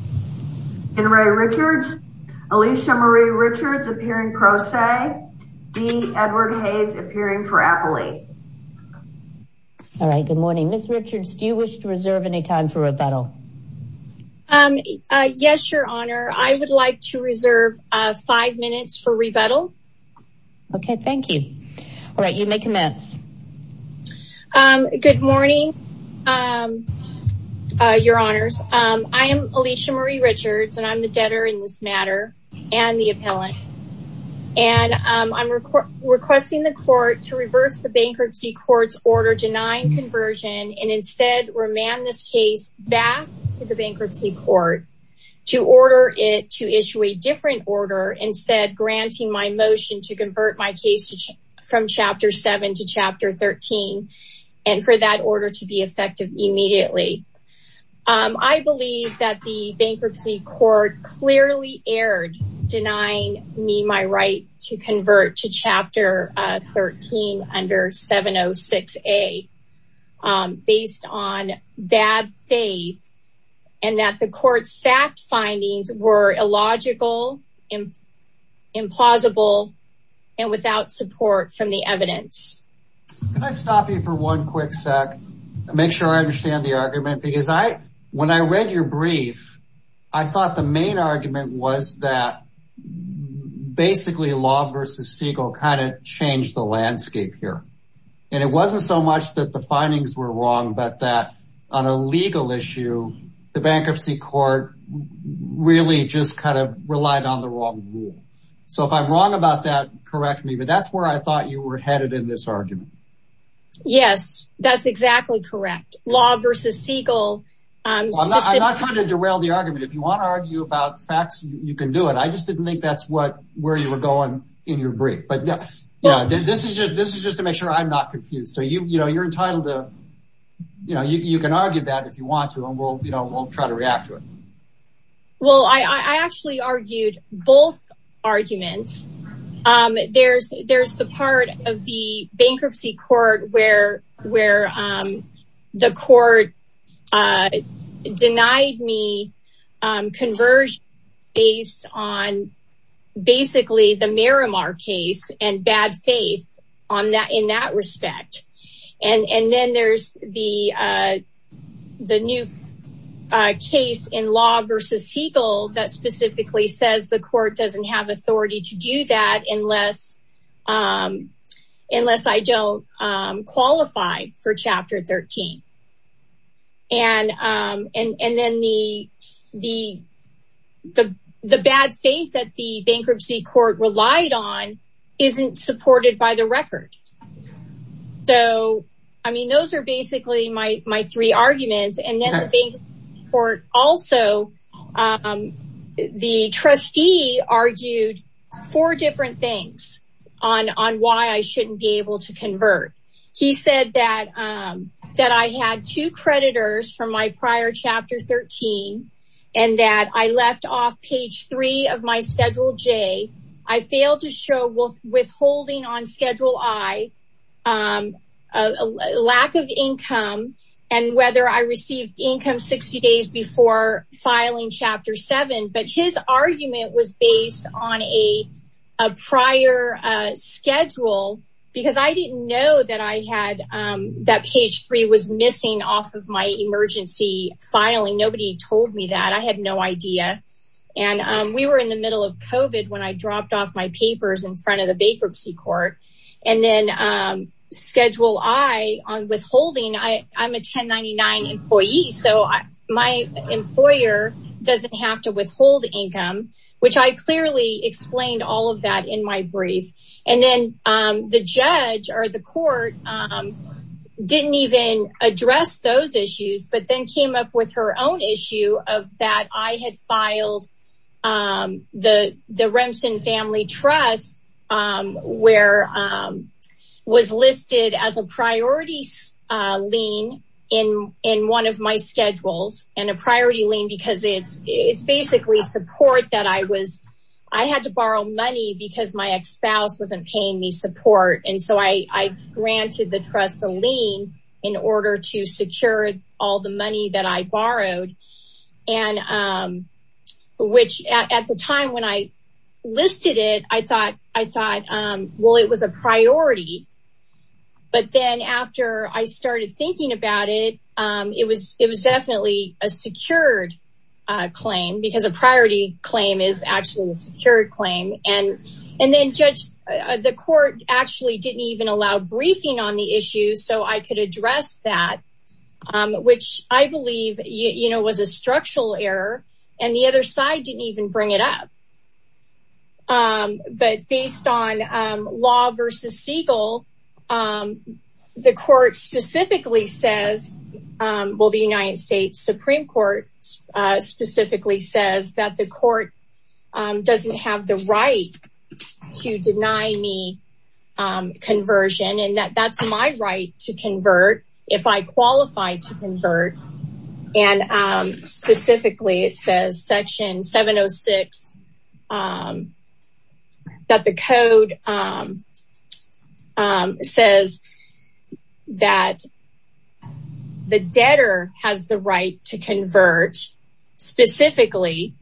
Enrae Richards, Alicia Marie Richards appearing pro se, D. Edward Hayes appearing for Acolyte. All right, good morning. Ms. Richards, do you wish to reserve any time for rebuttal? Yes, your honor. I would like to reserve five minutes for rebuttal. Okay, thank you. All right, you may commence. Good morning, your honors. I am Alicia Marie Richards and I'm the debtor in this matter and the appellant. And I'm requesting the court to reverse the bankruptcy court's order denying conversion and instead remand this case back to the bankruptcy court to order it to issue a Chapter 13 and for that order to be effective immediately. I believe that the bankruptcy court clearly erred denying me my right to convert to Chapter 13 under 706A based on bad faith and that the court's fact findings were illogical, implausible, and without support from the evidence. Can I stop you for one quick sec and make sure I understand the argument? Because when I read your brief, I thought the main argument was that basically Law v. Siegel kind of changed the landscape here. And it wasn't so much that the findings were wrong, but that on a legal issue, the bankruptcy court really just kind of relied on the wrong rule. So if I'm wrong about that, correct me, but that's where I thought you were headed in this argument. Yes, that's exactly correct. Law v. Siegel. I'm not trying to derail the argument. If you want to argue about facts, you can do it. I just didn't think that's where you were going in your brief. But yeah, this is just to make sure I'm not confused. So you're entitled to, you know, you can argue that if you want to and we'll try to react to it. Well, I actually argued both arguments. There's the part of the bankruptcy court where the court denied me conversion based on basically the Miramar case and bad faith in that respect. And then there's the new case in Law v. Siegel that specifically says the court doesn't have authority to do that unless I don't qualify for Chapter 13. And then the bad faith that the bankruptcy court relied on isn't supported by the record. So, I mean, those are basically my three arguments. And then the bankruptcy court also, the trustee argued four different things on why I shouldn't be able to convert. He said that I had two creditors from my prior Chapter 13 and that I left off page three of my Schedule J. I failed to show withholding on Schedule I, lack of income, and whether I received income 60 days before filing Chapter 7. But his argument was based on a prior schedule because I didn't know that page three was missing off of my emergency filing. Nobody told me that. I had no idea. And we were in the middle of COVID when I dropped off my papers in front of the bankruptcy court. And then Schedule I on withholding, I'm a 1099 employee, so my employer doesn't have to withhold income, which I clearly explained all of that in my brief. And then the judge or the court didn't even address those issues, but then came up with her own issue of that I had filed the Remsen Family Trust where was listed as a priority lien in one of my schedules and a priority lien because it's basically support that I was, I had to borrow money because my ex-spouse wasn't paying me support. And so I granted the trust a lien in order to secure all the money that I borrowed. And which at the time when I listed it, I thought, well, it was a priority. But then after I started thinking about it, it was definitely a secured claim because a priority claim is actually a secured claim. And then judge, the court actually didn't even allow briefing on the issues so I could address that, which I believe was a structural error and the other side didn't even bring it up. But based on law versus Siegel, the court specifically says, well, the United States Supreme Court specifically says that the court doesn't have the right to deny me conversion and that that's my right to convert if I qualify to convert. And specifically, it says section 706 that the code says that the debtor has the right to convert specifically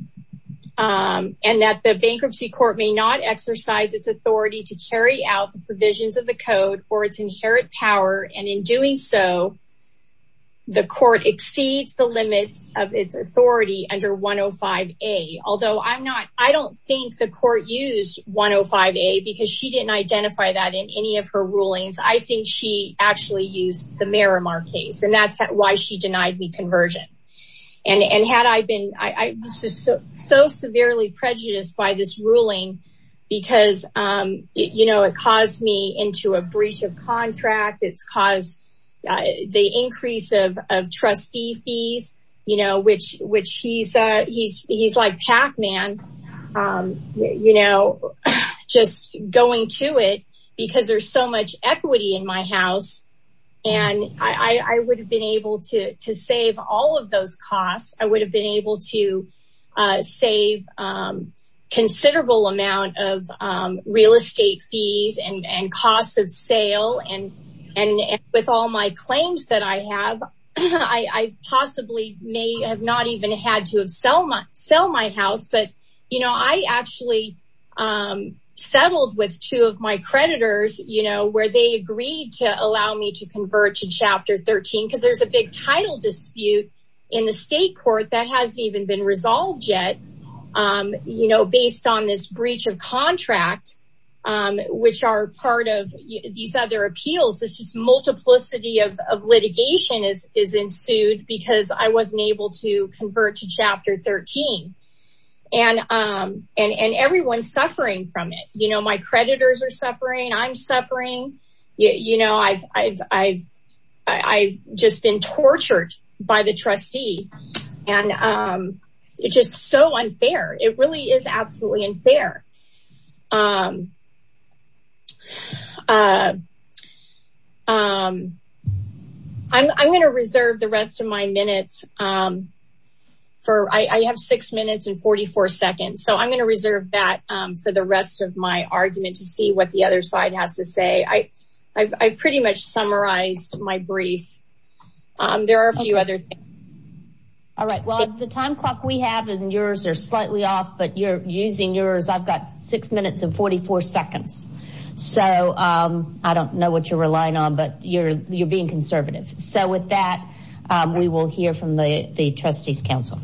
and that the bankruptcy court may not exercise its authority to carry out the provisions of code or its inherent power. And in doing so, the court exceeds the limits of its authority under 105A. Although I don't think the court used 105A because she didn't identify that in any of her rulings. I think she actually used the Merrimar case and that's why she denied me conversion. And had I been, I was just so severely prejudiced by this ruling because it caused me into a breach of contract. It's caused the increase of trustee fees, which he's like Pac-Man, just going to it because there's so much equity in my house. And I would have been able to save all of those costs. I would have been able to save considerable amount of real estate fees and costs of sale. And with all my claims that I have, I possibly may have not even had to sell my house. But I actually settled with two of my creditors where they agreed to allow me to convert to chapter 13 because there's a big title dispute in the state court that hasn't even been resolved yet based on this breach of contract, which are part of these other appeals. This is multiplicity of litigation is ensued because I wasn't able to convert to chapter 13. And everyone's suffering from it. My creditors are trustee and it's just so unfair. It really is absolutely unfair. I'm going to reserve the rest of my minutes for, I have six minutes and 44 seconds. So I'm going to reserve that for the rest of my argument to see what the other side has to say. I pretty much summarized my brief. There are a few other things. All right. Well, the time clock we have and yours are slightly off, but you're using yours. I've got six minutes and 44 seconds. So I don't know what you're relying on, but you're being conservative. So with that, we will hear from the trustees council.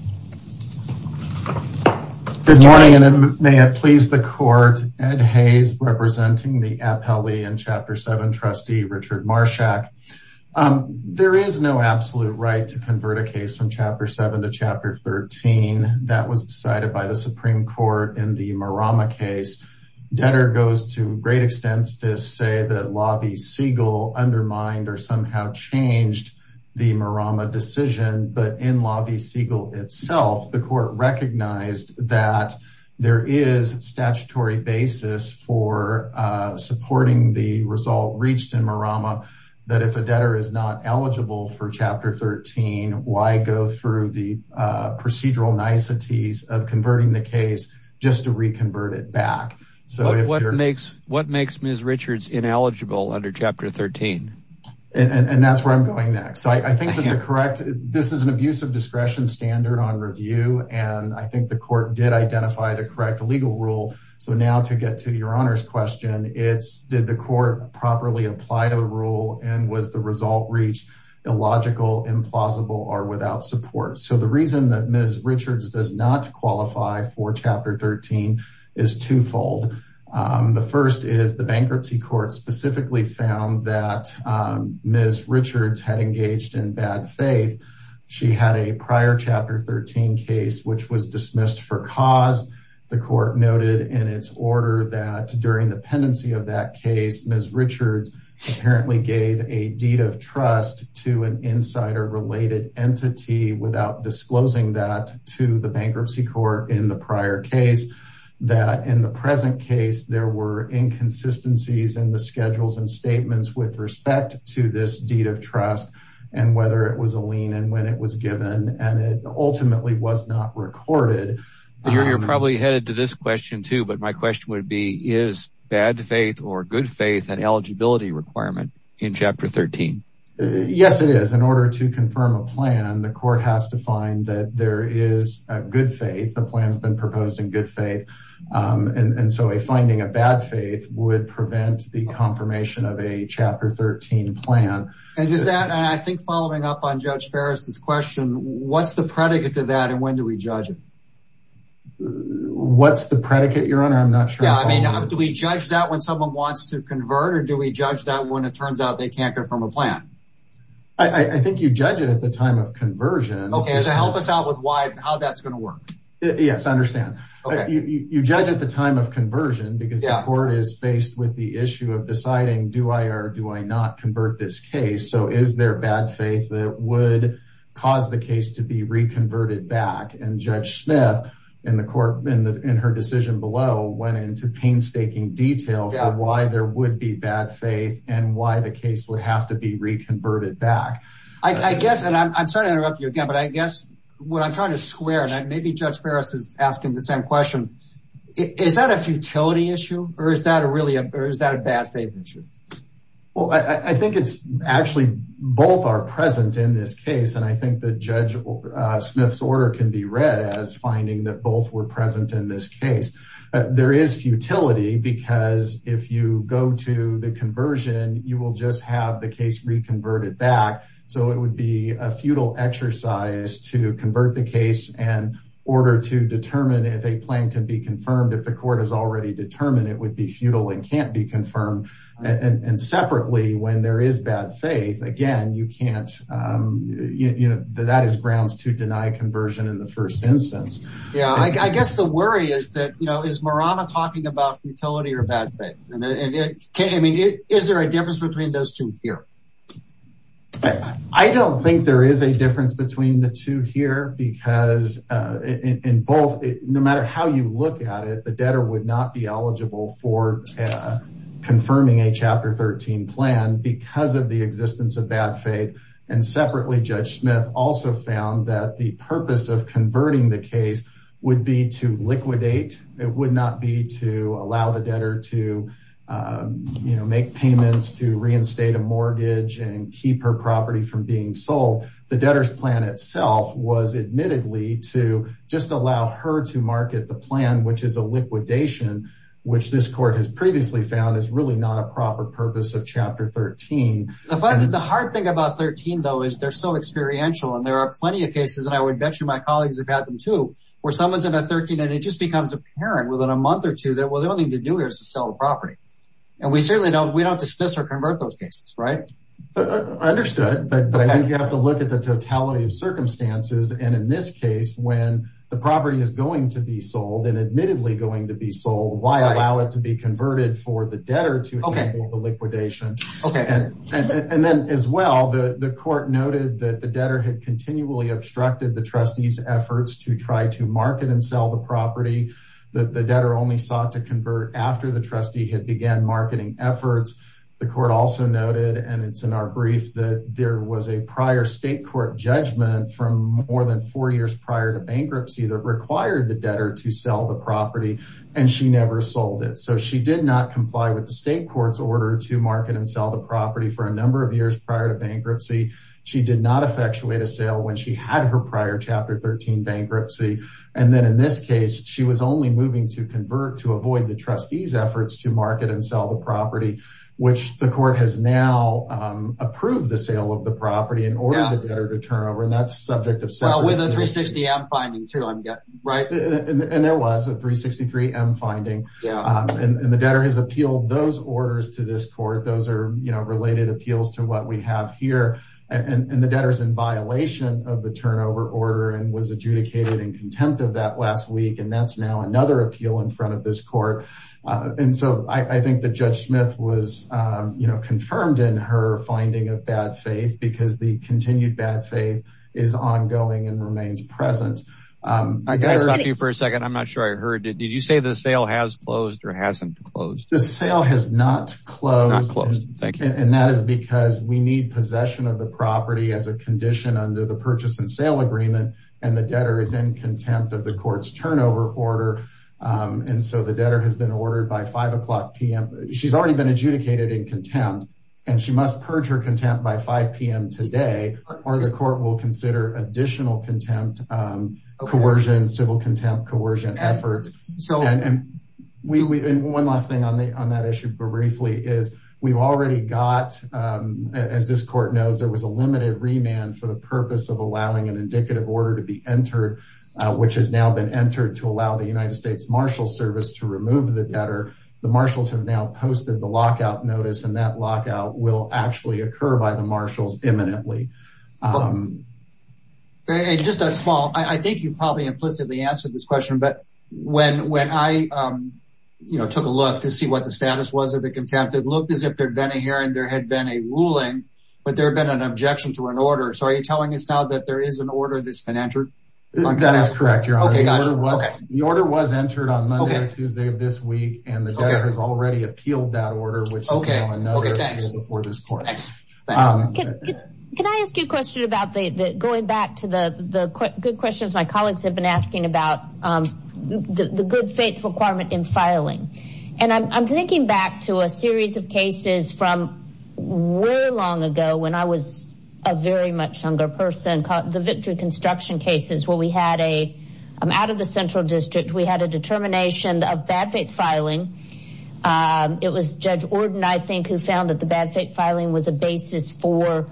Good morning and may it please the court, Ed Hayes representing the APLE and chapter seven trustee Richard Marshak. There is no absolute right to convert a case from chapter seven to chapter 13. That was decided by the Supreme court in the Marama case. Debtor goes to great extents to say that lobby Segal undermined or somehow changed the Marama decision. But in lobby Segal itself, the court recognized that there is statutory basis for supporting the result reached in Marama. That if a debtor is not eligible for chapter 13, why go through the procedural niceties of converting the case just to reconvert it back? So what makes, what makes Ms. Richards ineligible under chapter 13? And that's where I'm going next. So I think that the correct, this is an abuse of discretion standard on review. And I think the court did identify the correct legal rule. So now to get to your honor's question, it's did the court properly apply to the rule and was the result reached illogical, implausible or without support. So the reason that Ms. Richards does not qualify for chapter 13 is twofold. The first is the bankruptcy court specifically found that Ms. Richards had engaged in bad faith. She had a prior chapter 13 case, which was dismissed for cause. The court noted in its order that during the pendency of that case, Ms. Richards apparently gave a deed of trust to an insider related entity without disclosing that to the bankruptcy court in the prior case that in the present case, there were inconsistencies in the schedules and to this deed of trust and whether it was a lien and when it was given and it ultimately was not recorded. You're probably headed to this question too, but my question would be, is bad faith or good faith and eligibility requirement in chapter 13? Yes, it is. In order to confirm a plan, the court has to find that there is a good faith. The plan has been proposed in good faith. And so a finding of bad faith would prevent the confirmation of a chapter 13 plan. And just that, and I think following up on Judge Ferris's question, what's the predicate to that and when do we judge it? What's the predicate your honor? I'm not sure. Yeah. I mean, do we judge that when someone wants to convert or do we judge that when it turns out they can't confirm a plan? I think you judge it at the time of conversion. Okay. So help us out with why and how that's Yes, I understand. You judge at the time of conversion because the court is faced with the issue of deciding, do I or do I not convert this case? So is there bad faith that would cause the case to be reconverted back? And Judge Smith in the court, in her decision below, went into painstaking detail for why there would be bad faith and why the case would have to be reconverted back. I guess, and I'm sorry to interrupt you again, but I guess what I'm squaring, and maybe Judge Ferris is asking the same question. Is that a futility issue or is that a really a, or is that a bad faith issue? Well, I think it's actually both are present in this case. And I think that Judge Smith's order can be read as finding that both were present in this case. There is futility because if you go to the conversion, you will just have the case reconverted back. So it would be a futile exercise to convert the case and order to determine if a plan can be confirmed. If the court has already determined it would be futile and can't be confirmed. And separately, when there is bad faith, again, you can't, you know, that is grounds to deny conversion in the first instance. Yeah, I guess the worry is that, you know, is Marama talking about futility or bad faith? And it can't, I mean, is there a difference between those two here? I don't think there is a difference between the two here, because in both, no matter how you look at it, the debtor would not be eligible for confirming a Chapter 13 plan because of the existence of bad faith. And separately, Judge Smith also found that the purpose of converting the case would be to liquidate. It would not be to allow the debtor to, you know, make payments to reinstate a mortgage and keep her property from being sold. The debtor's plan itself was admittedly to just allow her to market the plan, which is a liquidation, which this court has previously found is really not a proper purpose of Chapter 13. The hard thing about 13, though, is they're so experiential. And there are plenty of cases, and I would bet you my colleagues have had them too, where someone's in a 13 and it just becomes apparent within a month or two that, the only thing to do here is to sell the property. And we certainly don't, we don't dismiss or convert those cases, right? I understood, but I think you have to look at the totality of circumstances. And in this case, when the property is going to be sold and admittedly going to be sold, why allow it to be converted for the debtor to handle the liquidation? And then as well, the court noted that the debtor had continually obstructed the trustee's efforts to try to market and sell the property. The debtor only sought to convert after the trustee had began marketing efforts. The court also noted, and it's in our brief, that there was a prior state court judgment from more than four years prior to bankruptcy that required the debtor to sell the property, and she never sold it. So she did not comply with the state court's order to market and sell the property for a number of years prior to bankruptcy. She did not effectuate a sale when she had her chapter 13 bankruptcy. And then in this case, she was only moving to convert to avoid the trustee's efforts to market and sell the property, which the court has now approved the sale of the property in order for the debtor to turn over. And that's subject of... Well, with the 360M finding too, I'm guessing, right? And there was a 363M finding. And the debtor has appealed those orders to this court. Those are related appeals to what we have here. And the debtor's in violation of turnover order and was adjudicated in contempt of that last week. And that's now another appeal in front of this court. And so I think that Judge Smith was confirmed in her finding of bad faith because the continued bad faith is ongoing and remains present. I gotta stop you for a second. I'm not sure I heard it. Did you say the sale has closed or hasn't closed? The sale has not closed. Not closed. Thank you. And that is because we need possession of the property as a condition under the purchase and sale agreement. And the debtor is in contempt of the court's turnover order. And so the debtor has been ordered by 5 o'clock p.m. She's already been adjudicated in contempt. And she must purge her contempt by 5 p.m. today, or the court will consider additional contempt, coercion, civil contempt, coercion efforts. And one last thing on that issue briefly is we've already got, as this court knows, there was a limited remand for the purpose of allowing an indicative order to be entered, which has now been entered to allow the United States Marshals Service to remove the debtor. The marshals have now posted the lockout notice, and that lockout will actually occur by the marshals imminently. And just a small, I think you probably implicitly answered this question, but when I took a look to see what the status was of the contempt, it looked as if there'd been a hearing, there had been a ruling, but there had been an objection to an order. So are you telling us now that there is an order that's been entered? That is correct, Your Honor. The order was entered on Monday or Tuesday of this week, and the debtor has already appealed that order, which is now another appeal before this court. Can I ask you a question about going back to the good questions my colleagues have been asking about the good faith requirement in filing? And I'm thinking back to a series of cases from way long ago when I was a very much younger person called the victory construction cases where we had a, out of the Central District, we had a determination of bad faith filing. It was Judge Ordon, I think, who found that the bad faith filing was a basis for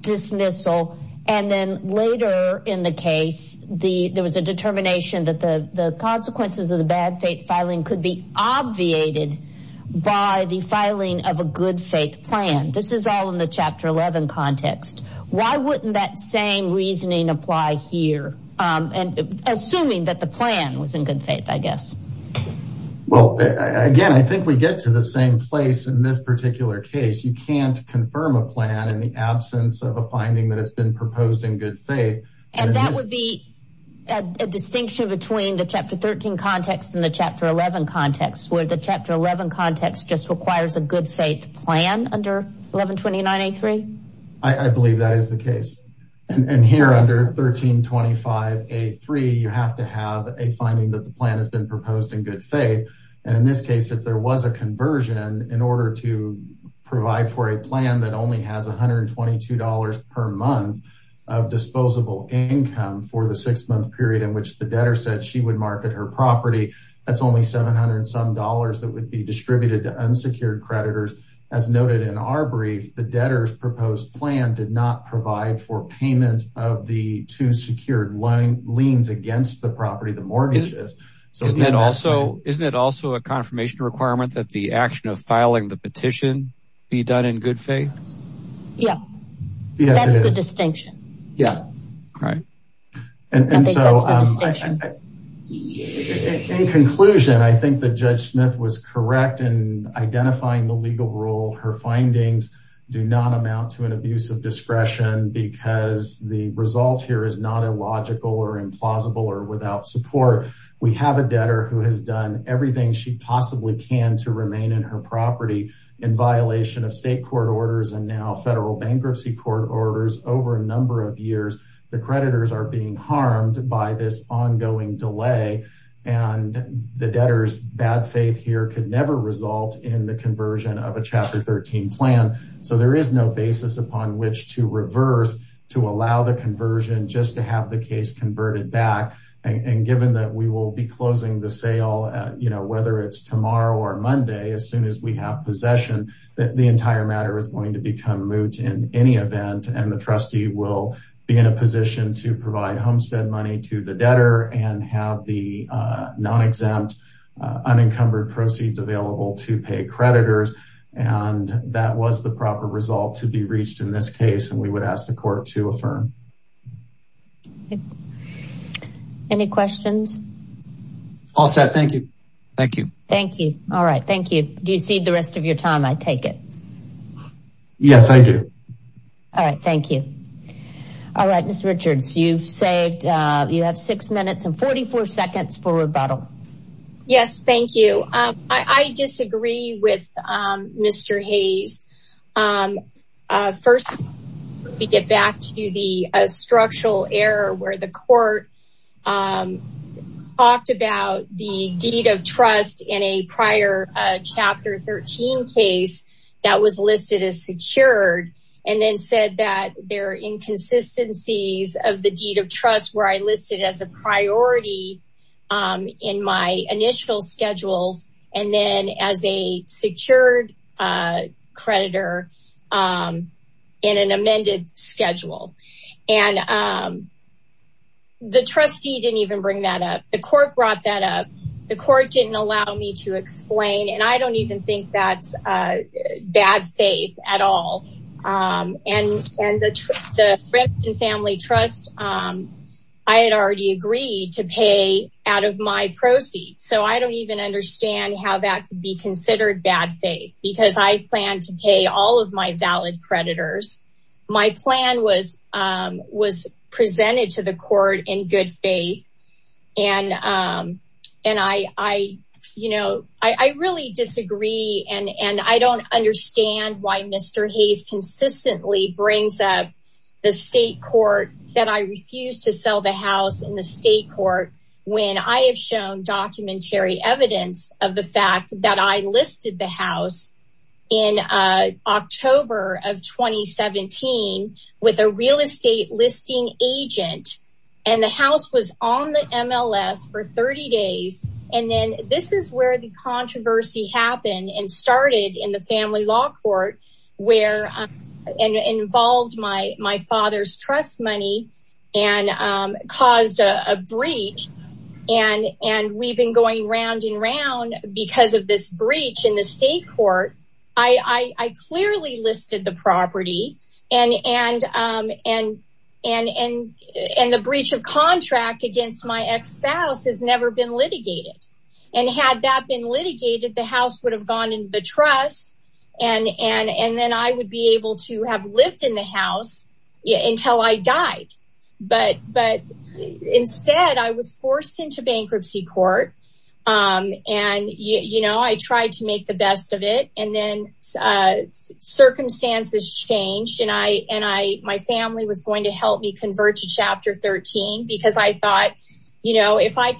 dismissal. And then later in the case, there was a determination that the consequences of the bad faith filing could be obviated by the filing of a good faith plan. This is all in the Chapter 11 context. Why wouldn't that same reasoning apply here? And assuming that the plan was in good faith, I guess. Well, again, I think we get to the same place in this particular case. You can't confirm a plan in the absence of a finding that has been proposed in good faith. And that would be a distinction between the Chapter 13 context and the Chapter 11 context, where the Chapter 11 context just requires a good faith plan under 1129A3? I believe that is the case. And here under 1325A3, you have to have a finding that the plan has been proposed in good faith. And in this case, there was a conversion in order to provide for a plan that only has $122 per month of disposable income for the six-month period in which the debtor said she would market her property. That's only 700-some dollars that would be distributed to unsecured creditors. As noted in our brief, the debtor's proposed plan did not provide for payment of the two secured liens against the property, the mortgages. Isn't it also a confirmation requirement that the action of filing the petition be done in good faith? Yeah. That's the distinction. In conclusion, I think that Judge Smith was correct in identifying the legal rule. Her implausible or without support. We have a debtor who has done everything she possibly can to remain in her property in violation of state court orders and now federal bankruptcy court orders. Over a number of years, the creditors are being harmed by this ongoing delay and the debtor's bad faith here could never result in the conversion of a Chapter 13 plan. So there is no conversion just to have the case converted back. Given that we will be closing the sale, whether it's tomorrow or Monday, as soon as we have possession, the entire matter is going to become moot in any event and the trustee will be in a position to provide homestead money to the debtor and have the non-exempt unencumbered proceeds available to pay creditors. That was proper result to be reached in this case and we would ask the court to affirm. Any questions? All set. Thank you. Thank you. Thank you. All right. Thank you. Do you cede the rest of your time? I take it. Yes, I do. All right. Thank you. All right. Miss Richards, you've saved. You have six minutes and 44 seconds for rebuttal. Yes. Thank you. I disagree with Mr. Hayes. First, we get back to the structural error where the court talked about the deed of trust in a prior Chapter 13 case that was listed as secured and then said that there are inconsistencies of the deed of trust where I listed as a priority in my initial schedules and then as a secured creditor in an amended schedule. The trustee didn't even bring that up. The court brought that up. The court didn't allow me to explain and I don't even think that's bad faith at all. And the family trust, I had already agreed to pay out of my proceeds. So I don't even understand how that could be considered bad faith because I plan to pay all of my valid creditors. My plan was presented to the court in good faith and I really disagree and I don't understand why Mr. Hayes consistently brings up the state court that I refused to sell the house in the state court when I have shown documentary evidence of the fact that I listed the house in October of 2017 with a real estate listing agent and the house was on the MLS for 30 days. And then this is where the controversy happened and started in the family law court where involved my father's trust money and caused a breach. And we've been going round and round because of this breach in the state court. I clearly listed the property and the breach of and had that been litigated, the house would have gone in the trust and then I would be able to have lived in the house until I died. But instead I was forced into bankruptcy court and I tried to make the best of it and then circumstances changed and my family was going to help me convert to chapter 13 because I thought if I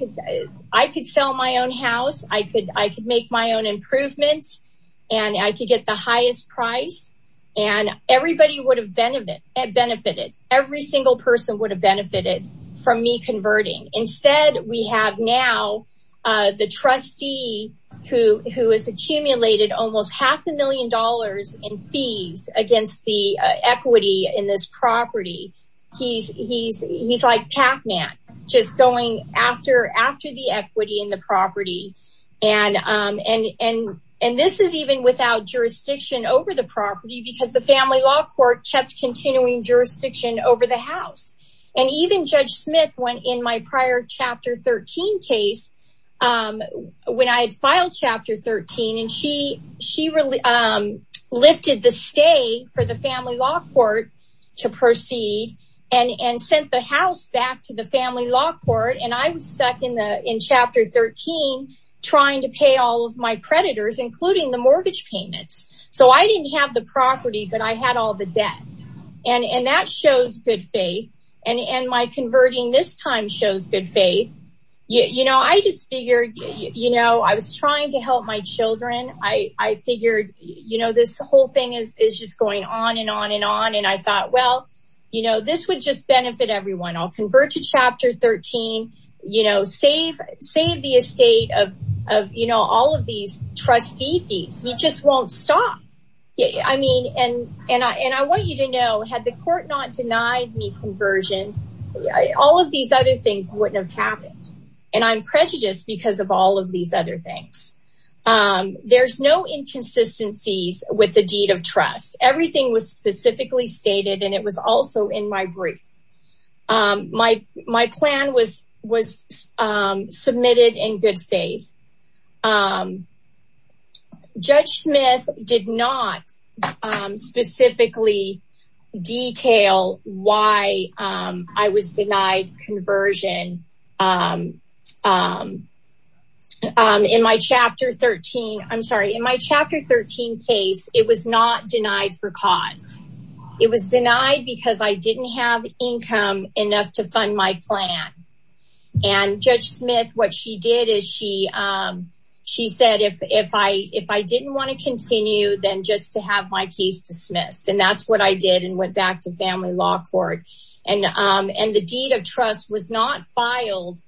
could sell my own house, I could make my own improvements and I could get the highest price and everybody would have benefited. Every single person would have benefited from me converting. Instead we have now the trustee who has accumulated almost half a million dollars in fees against the equity in this property. He's like Pac-Man, just going after the equity in the property and this is even without jurisdiction over the property because the family law court kept continuing jurisdiction over the chapter 13 and she lifted the stay for the family law court to proceed and sent the house back to the family law court and I was stuck in chapter 13 trying to pay all of my predators including the mortgage payments. So I didn't have the property but I had all the debt and that shows good faith and my converting this time shows good faith. I just figured I was trying to help my children. I figured this whole thing is just going on and on and on and I thought well this would just benefit everyone. I'll convert to chapter 13, save the estate of all of these trustee fees. We just won't stop. I want you to know had the court not denied me conversion all of these other things wouldn't have happened and I'm prejudiced because of all of these other things. There's no inconsistencies with the deed of trust. Everything was specifically stated and it was also in my brief. My plan was submitted in good faith. Judge Smith did not specifically detail why I was denied conversion. In my chapter 13 case it was not denied for cause. It was denied because I didn't have income enough to fund my plan and Judge Smith what she did is she said if I didn't want to continue then just to have my case dismissed and that's what I did and went back to family law court and the deed of trust was not filed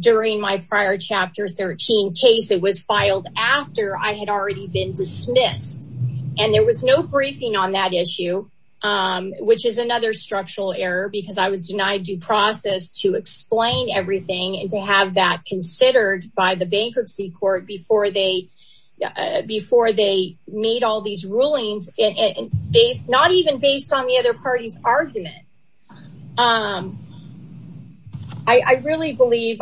during my prior chapter 13 case. It was filed after I had already been dismissed and there was no briefing on that issue which is another structural error because I was denied due process to explain everything and to have that considered by the bankruptcy court before they made all these rulings not even based on the other party's argument. I really believe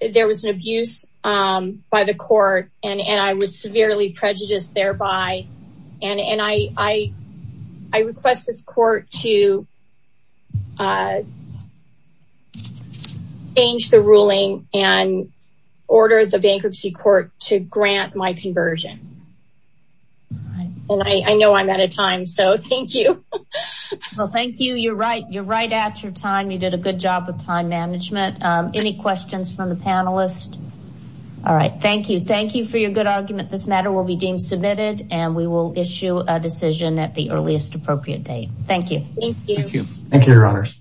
there was an abuse by the court and I was severely prejudiced thereby and I request this court to change the ruling and order the bankruptcy court to grant my conversion and I know I'm out of time so thank you. Well thank you you're right you're right at your time you did a good job with time management. Any questions from the panelists? All right thank you. Thank you for your good argument. This matter will be deemed submitted and we will issue a decision at the earliest appropriate date. Thank you. Thank you. Thank you your honors.